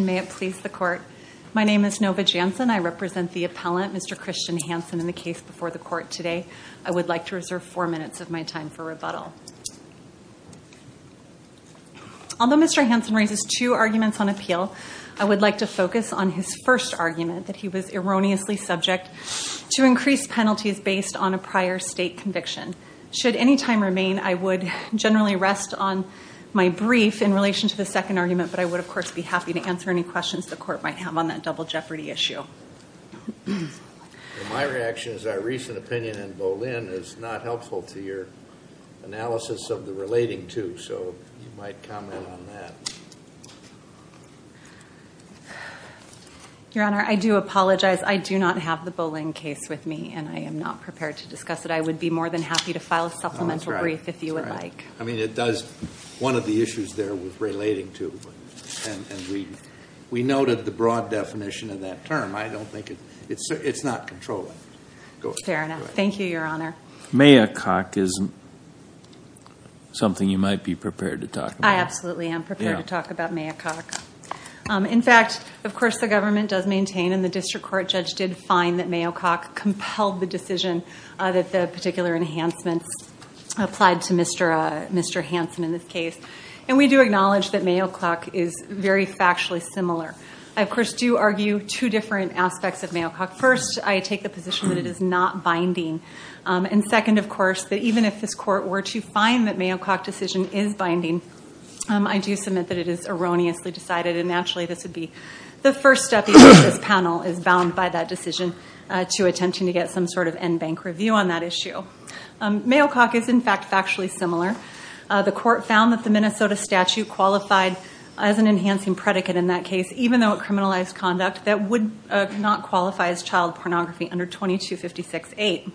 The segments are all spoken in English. My name is Nova Jansen. I represent the appellant, Mr. Christian Hansen, in the case before the court today. I would like to reserve four minutes of my time for rebuttal. Although Mr. Hansen raises two arguments on appeal, I would like to focus on his first argument, that he was erroneously subject to increased penalties based on a prior state conviction. Should any time remain, I would generally rest on my brief in relation to the second argument, but I would, of course, be happy to answer any questions the court might have on that double jeopardy issue. My reaction is that a recent opinion in Bolin is not helpful to your analysis of the relating to, so you might comment on that. Your Honor, I do apologize. I do not have the Bolin case with me, and I am not prepared to discuss it. I would be more than happy to file a supplemental brief if you would like. I mean, it does, one of the issues there was relating to, and we noted the broad definition of that term. I don't think it's, it's not controlling. Fair enough. Thank you, Your Honor. Mayococ is something you might be prepared to talk about. I absolutely am prepared to talk about Mayococ. In fact, of course, the government does maintain and the district court judge did find that Mayococ compelled the decision that the particular enhancements applied to Mr. Hansen in this case, and we do acknowledge that Mayococ is very factually similar. I, of course, do argue two different aspects of Mayococ. First, I take the position that it is not binding, and second, of course, that even if this court were to find that Mayococ decision is binding, I do submit that it is erroneously decided, and naturally this would be the first step in which this panel is bound by that decision to attempting to get some sort of end bank review on that issue. Mayococ is, in fact, factually similar. The court found that the Minnesota statute qualified as an enhancing predicate in that case, even though it criminalized conduct that would not qualify as child pornography under 2256-8.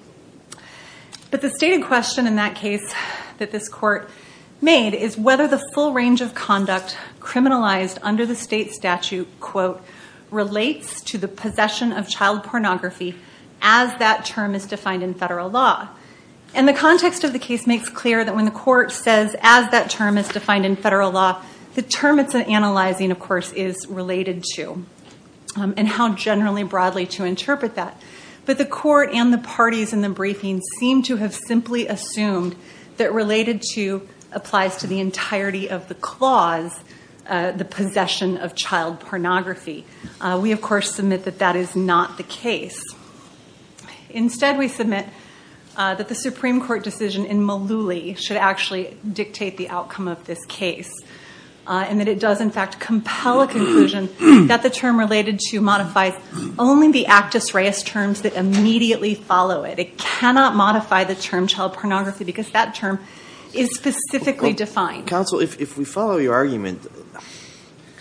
But the stated question in that case that this court made is whether the full range of conduct criminalized under the state statute, quote, relates to the possession of child pornography as that term is defined in federal law. And the context of the case makes clear that when the court says as that term is defined in federal law, the term it's analyzing, of course, is related to, and how generally broadly to interpret that. But the court and the parties in the briefing seem to have simply assumed that related to the possession of child pornography. We, of course, submit that that is not the case. Instead, we submit that the Supreme Court decision in Mullooly should actually dictate the outcome of this case, and that it does, in fact, compel a conclusion that the term related to modifies only the Actus Reis terms that immediately follow it. It cannot modify the term child pornography because that term is specifically defined. Counsel, if we follow your argument,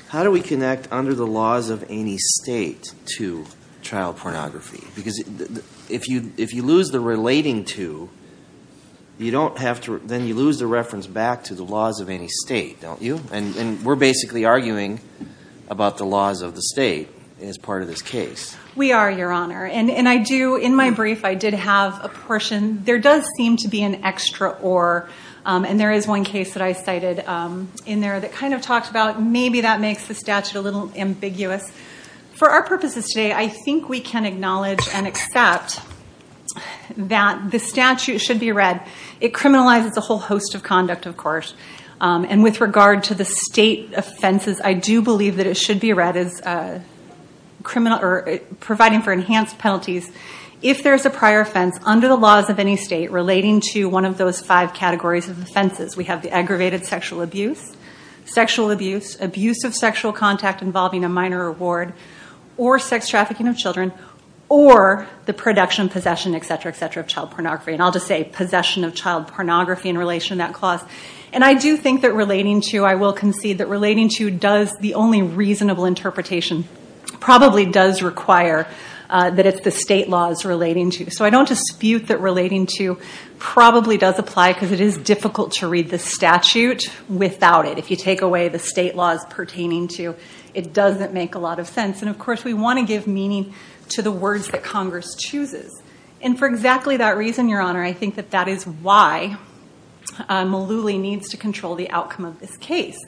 how do we connect under the laws of any state to child pornography? Because if you lose the relating to, then you lose the reference back to the laws of any state, don't you? And we're basically arguing about the laws of the state as part of this case. We are, Your Honor. And I do, in my brief, I did have a portion. There does seem to be an extra or, and there is one case that I cited in there that kind of talked about. Maybe that makes the statute a little ambiguous. For our purposes today, I think we can acknowledge and accept that the statute should be read. It criminalizes a whole host of conduct, of course. And with regard to the state offenses, I do believe that it should be read as providing for enhanced penalties. If there's a prior offense under the laws of any state relating to one of those five categories of offenses, we have the aggravated sexual abuse, sexual abuse, abuse of sexual contact involving a minor or ward, or sex trafficking of children, or the production, possession, et cetera, et cetera, of child pornography. And I'll just say possession of child pornography in relation to that clause. And I do think that relating to, I will concede that relating to does the only reasonable interpretation, probably does require that it's the state laws relating to. So I don't dispute that relating to probably does apply because it is difficult to read the statute without it. If you take away the state laws pertaining to, it doesn't make a lot of sense. And, of course, we want to give meaning to the words that Congress chooses. And for exactly that reason, Your Honor, I think that that is why Malooly needs to control the outcome of this case.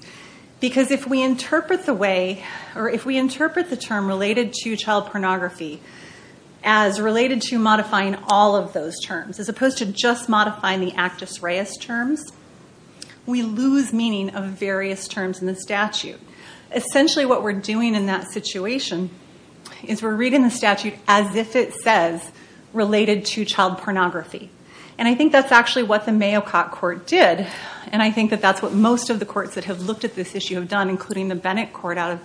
Because if we interpret the term related to child pornography as related to modifying all of those terms, as opposed to just modifying the Actus Reis terms, we lose meaning of various terms in the statute. Essentially what we're doing in that situation is we're reading the statute as if it says related to child pornography. And I think that's actually what the Mayococ Court did. And I think that that's what most of the courts that have looked at this issue have done, including the Bennett Court out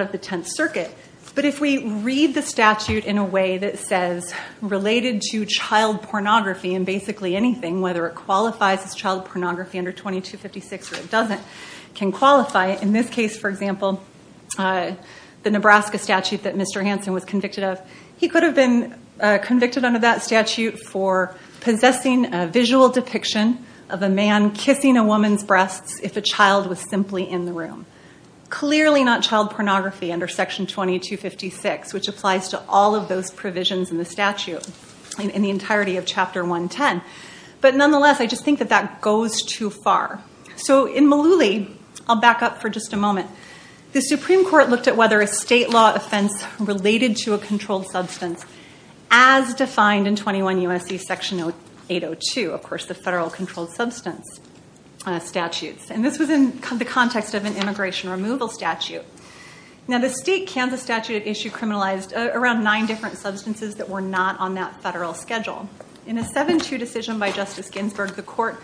of the Tenth Circuit. But if we read the statute in a way that says related to child pornography, and basically anything, whether it qualifies as child pornography under 2256 or it doesn't, can qualify. In this case, for example, the Nebraska statute that Mr. Hansen was convicted of, he could have been convicted under that statute for possessing a visual depiction of a man kissing a woman's breasts if a child was simply in the room. Clearly not child pornography under Section 2256, which applies to all of those provisions in the statute, in the entirety of Chapter 110. But nonetheless, I just think that that goes too far. So in Malooly, I'll back up for just a moment. The Supreme Court looked at whether a state law offense related to a controlled substance as defined in 21 U.S.C. Section 802, of course, the Federal Controlled Substance Statutes. And this was in the context of an immigration removal statute. Now the state Kansas statute at issue criminalized around nine different substances that were not on that federal schedule. In a 7-2 decision by Justice Ginsburg, the court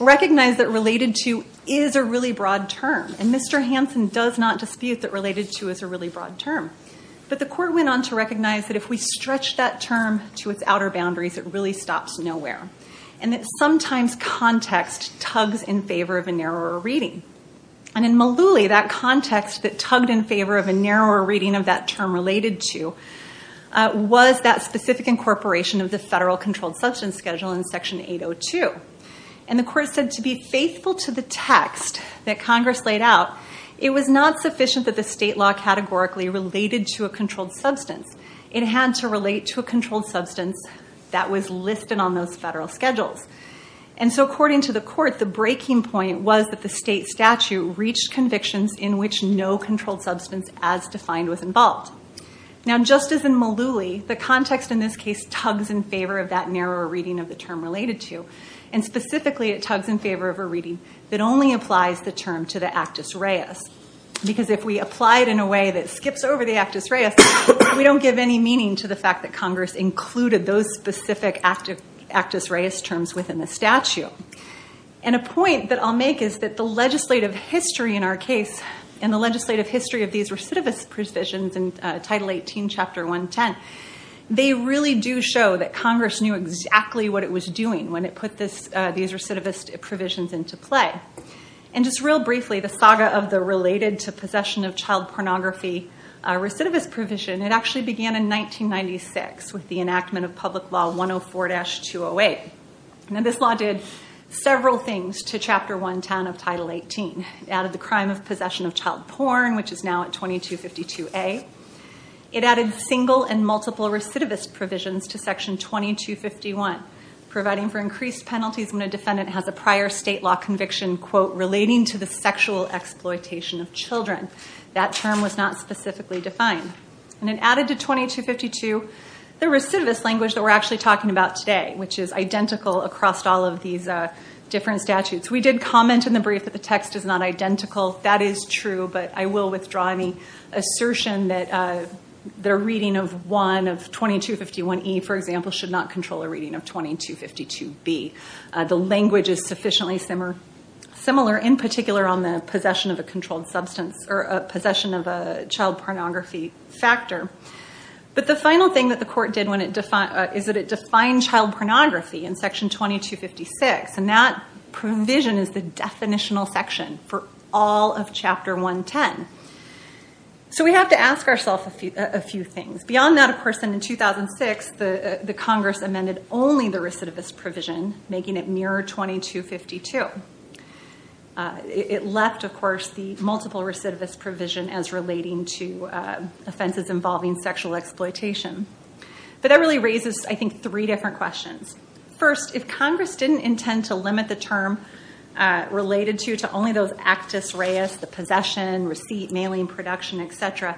recognized that related to is a really broad term. And Mr. Hansen does not dispute that related to is a really broad term. But the court went on to recognize that if we stretch that term to its outer boundaries, it really stops nowhere. And that sometimes context tugs in favor of a narrower reading. And in Malooly, that context that tugged in favor of a narrower reading of that term related to was that specific incorporation of the Federal Controlled Substance Schedule in Section 802. And the court said to be faithful to the text that Congress laid out, it was not sufficient that the state law categorically related to a controlled substance. It had to relate to a controlled substance that was listed on those federal schedules. And so according to the court, the breaking point was that the state statute reached convictions in which no controlled substance as defined was involved. Now just as in Malooly, the context in this case tugs in favor of that narrower reading of the term related to. And specifically, it tugs in favor of a reading that only applies the term to the actus reus. Because if we apply it in a way that skips over the actus reus, we don't give any meaning to the fact that Congress included those specific actus reus terms within the statute. And a point that I'll make is that the legislative history in our case and the legislative history of these recidivist provisions in Title 18, Chapter 110, they really do show that Congress knew exactly what it was doing when it put these recidivist provisions into play. And just real briefly, the saga of the related to possession of child pornography recidivist provision, it actually began in 1996 with the enactment of Public Law 104-208. Now this law did several things to Chapter 110 of Title 18. It added the crime of possession of child porn, which is now at 2252A. It added single and multiple recidivist provisions to Section 2251, providing for increased penalties when a defendant has a prior state law conviction, quote, relating to the sexual exploitation of children. That term was not specifically defined. And it added to 2252 the recidivist language that we're actually talking about today, which is identical across all of these different statutes. We did comment in the brief that the text is not identical. That is true, but I will withdraw any assertion that a reading of 2251E, for example, should not control a reading of 2252B. The language is sufficiently similar, in particular on the possession of a controlled substance or a possession of a child pornography factor. But the final thing that the court did is that it defined child pornography in Section 2256, and that provision is the definitional section for all of Chapter 110. So we have to ask ourselves a few things. Beyond that, of course, in 2006, the Congress amended only the recidivist provision, making it nearer 2252. It left, of course, the multiple recidivist provision as relating to offenses involving sexual exploitation. But that really raises, I think, three different questions. First, if Congress didn't intend to limit the term related to only those actus reus, the possession, receipt, mailing, production, et cetera,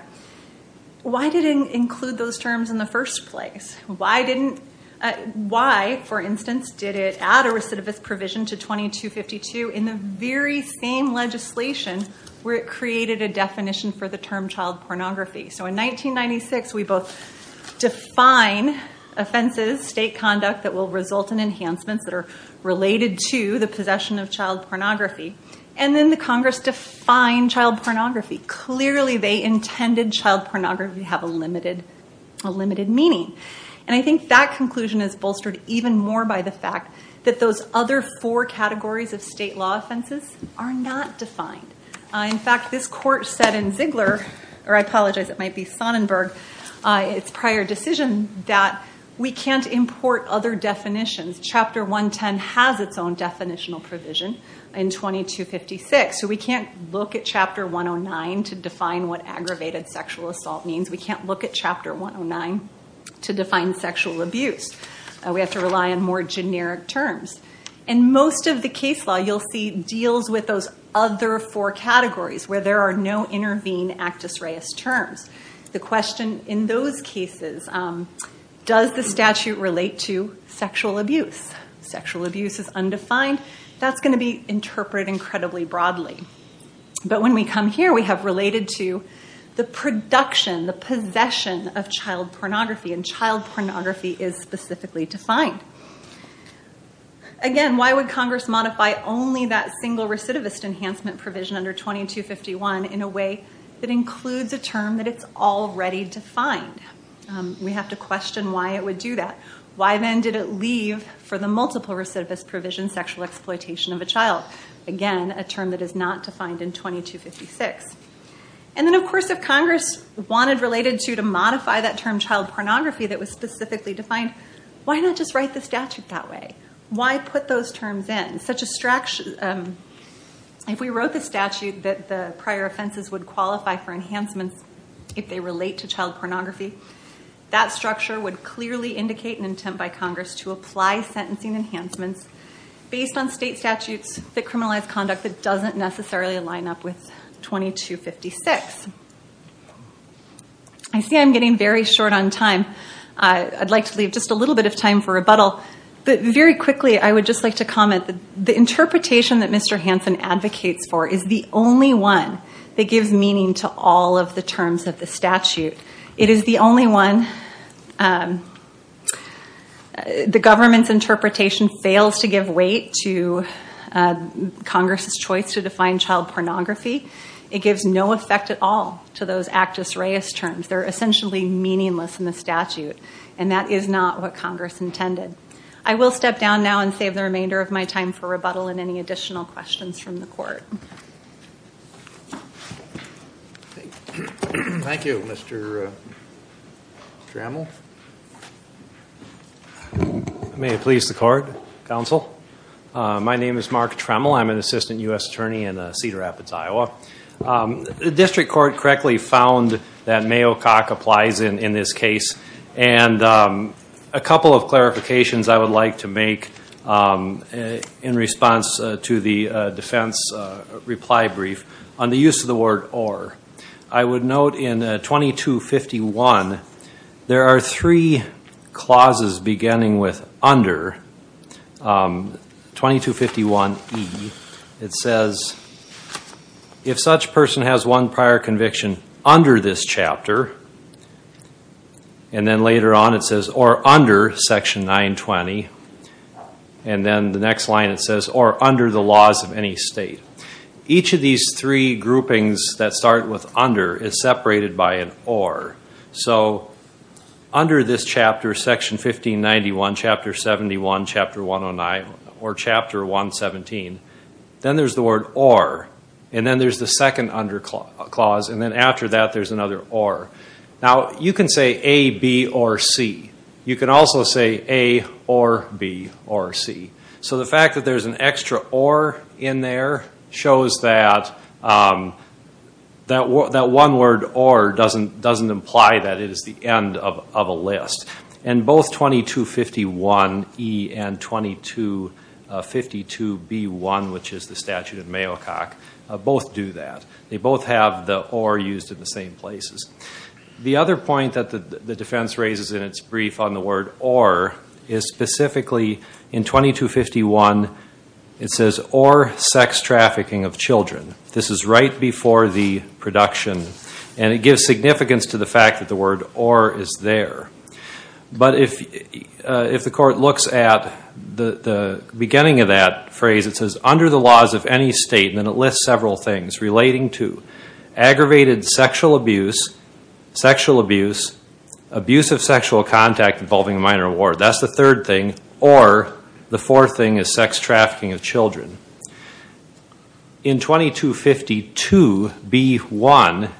why did it include those terms in the first place? Why, for instance, did it add a recidivist provision to 2252 in the very same legislation where it created a definition for the term child pornography? So in 1996, we both define offenses, state conduct that will result in enhancements that are related to the possession of child pornography. And then the Congress defined child pornography. Clearly, they intended child pornography to have a limited meaning. And I think that conclusion is bolstered even more by the fact that those other four categories of state law offenses are not defined. In fact, this court said in Ziegler, or I apologize, it might be Sonnenberg, its prior decision that we can't import other definitions. Chapter 110 has its own definitional provision in 2256. So we can't look at Chapter 109 to define what aggravated sexual assault means. We can't look at Chapter 109 to define sexual abuse. We have to rely on more generic terms. And most of the case law, you'll see, deals with those other four categories where there are no intervene actus reus terms. The question in those cases, does the statute relate to sexual abuse? Sexual abuse is undefined. That's going to be interpreted incredibly broadly. But when we come here, we have related to the production, the possession of child pornography. And child pornography is specifically defined. Again, why would Congress modify only that single recidivist enhancement provision under 2251 in a way that includes a term that it's already defined? We have to question why it would do that. Why then did it leave for the multiple recidivist provision sexual exploitation of a child? Again, a term that is not defined in 2256. And then, of course, if Congress wanted related to to modify that term child pornography that was specifically defined, why not just write the statute that way? Why put those terms in? If we wrote the statute that the prior offenses would qualify for enhancements if they relate to child pornography, that structure would clearly indicate an intent by Congress to apply sentencing enhancements based on state statutes that criminalize conduct that doesn't necessarily line up with 2256. I see I'm getting very short on time. I'd like to leave just a little bit of time for rebuttal. But very quickly, I would just like to comment that the interpretation that Mr. Hansen advocates for is the only one that gives meaning to all of the terms of the statute. It is the only one. The government's interpretation fails to give weight to Congress's choice to define child pornography. It gives no effect at all to those actus reus terms. They're essentially meaningless in the statute, and that is not what Congress intended. I will step down now and save the remainder of my time for rebuttal and any additional questions from the court. Thank you. Thank you, Mr. Trammell. May it please the court, counsel? My name is Mark Trammell. I'm an assistant U.S. attorney in Cedar Rapids, Iowa. The district court correctly found that Mayo Cock applies in this case, and a couple of clarifications I would like to make in response to the defense reply brief. On the use of the word or, I would note in 2251, there are three clauses beginning with under, 2251E. It says, if such person has one prior conviction under this chapter, and then later on it says or under Section 920, and then the next line it says or under the laws of any state. Each of these three groupings that start with under is separated by an or. So under this chapter, Section 1591, Chapter 71, Chapter 109, or Chapter 117, then there's the word or, and then there's the second under clause, and then after that there's another or. Now, you can say A, B, or C. You can also say A or B or C. So the fact that there's an extra or in there shows that that one word or doesn't imply that it is the end of a list. And both 2251E and 2252B1, which is the statute in Mayo Cock, both do that. They both have the or used in the same places. The other point that the defense raises in its brief on the word or is specifically in 2251 it says or sex trafficking of children. This is right before the production, and it gives significance to the fact that the word or is there. But if the court looks at the beginning of that phrase, it says under the laws of any state, and then it lists several things relating to aggravated sexual abuse, sexual abuse, abuse of sexual contact involving a minor at war. That's the third thing. Or the fourth thing is sex trafficking of children. In 2252B1,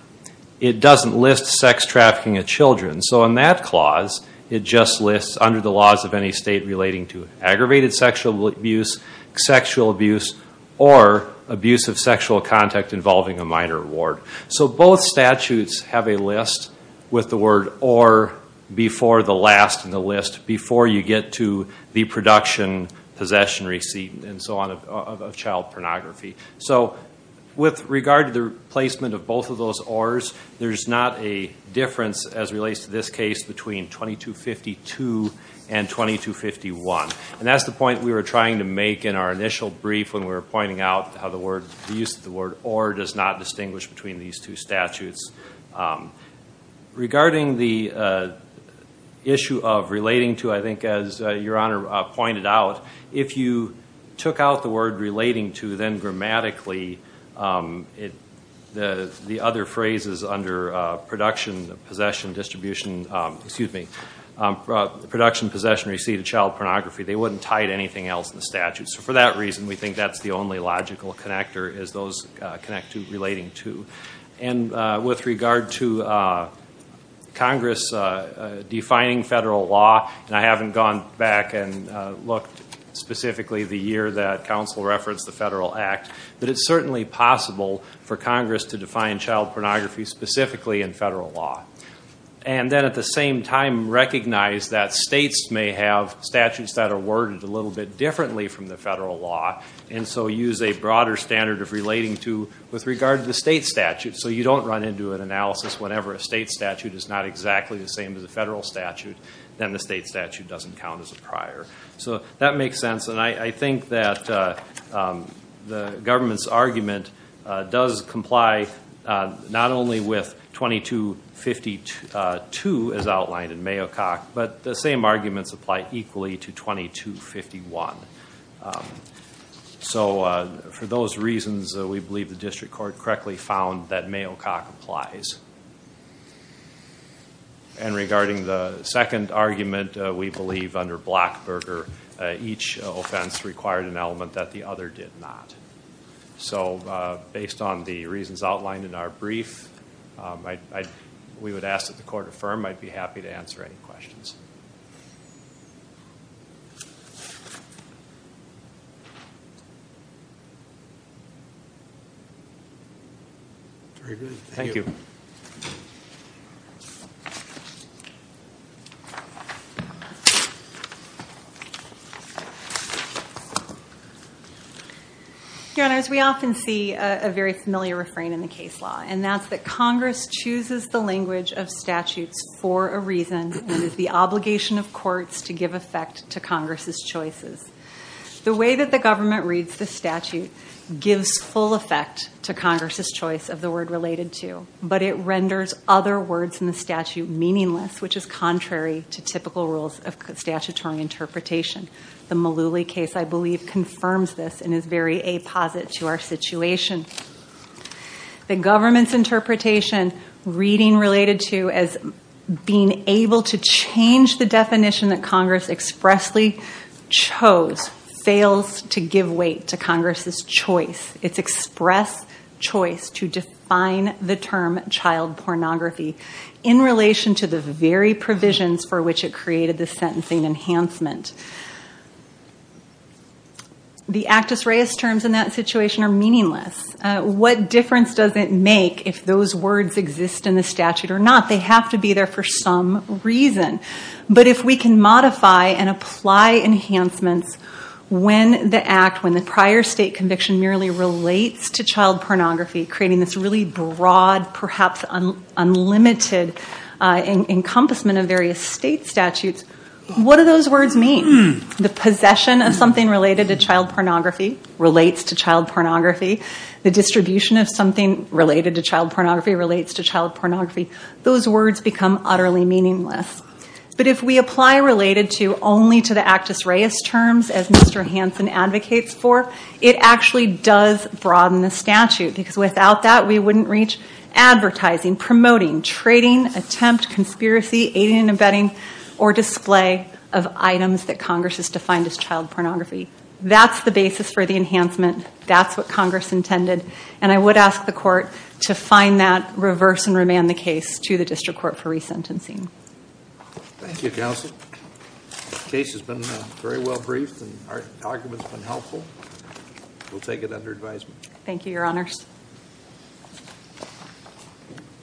it doesn't list sex trafficking of children. So in that clause, it just lists under the laws of any state relating to aggravated sexual abuse, sexual abuse, or abuse of sexual contact involving a minor at war. So both statutes have a list with the word or before the last in the list, before you get to the production, possession, receipt, and so on of child pornography. So with regard to the placement of both of those ors, there's not a difference as relates to this case between 2252 and 2251. And that's the point we were trying to make in our initial brief when we were pointing out how the use of the word or does not distinguish between these two statutes. Regarding the issue of relating to, I think as Your Honor pointed out, if you took out the word relating to, then grammatically, the other phrases under production, possession, distribution, excuse me, production, possession, receipt, and child pornography, they wouldn't tie to anything else in the statute. So for that reason, we think that's the only logical connector is those connect to relating to. And with regard to Congress defining federal law, and I haven't gone back and looked specifically the year that counsel referenced the Federal Act, but it's certainly possible for Congress to define child pornography specifically in federal law. And then at the same time recognize that states may have statutes that are worded a little bit differently from the federal law and so use a broader standard of relating to with regard to the state statute so you don't run into an analysis whenever a state statute is not exactly the same as a federal statute, then the state statute doesn't count as a prior. So that makes sense. And I think that the government's argument does comply not only with 2252 as outlined in Mayocock, but the same arguments apply equally to 2251. So for those reasons, we believe the district court correctly found that Mayocock applies. And regarding the second argument, we believe under Blackburger, each offense required an element that the other did not. So based on the reasons outlined in our brief, we would ask that the court affirm. I'd be happy to answer any questions. Thank you. Your Honors, we often see a very familiar refrain in the case law, and that's that Congress chooses the language of statutes for a reason and is the obligation of courts to give effect to Congress's choices. The way that the government reads the statute gives full effect to Congress's choice of the word related to, but it renders other words in the statute meaningless, which is contrary to typical rules of statutory interpretation. The Mullooly case, I believe, confirms this and is very apositive to our situation. The government's interpretation, reading related to as being able to change the definition that Congress expressly chose, fails to give weight to Congress's choice, its express choice to define the term child pornography in relation to the very provisions for which it created the sentencing enhancement. The Actus Reis terms in that situation are meaningless. What difference does it make if those words exist in the statute or not? They have to be there for some reason. But if we can modify and apply enhancements when the act, when the prior state conviction merely relates to child pornography, creating this really broad, perhaps unlimited, encompassment of various state statutes, what do those words mean? The possession of something related to child pornography relates to child pornography. The distribution of something related to child pornography relates to child pornography. Those words become utterly meaningless. But if we apply related to only to the Actus Reis terms, as Mr. Hansen advocates for, it actually does broaden the statute, because without that we wouldn't reach advertising, promoting, trading, attempt, conspiracy, aiding and abetting, or display of items that Congress has defined as child pornography. That's the basis for the enhancement. That's what Congress intended. And I would ask the Court to find that, reverse and remand the case to the District Court for resentencing. Thank you, Counsel. The case has been very well briefed and our argument's been helpful. We'll take it under advisement. Thank you, Your Honors.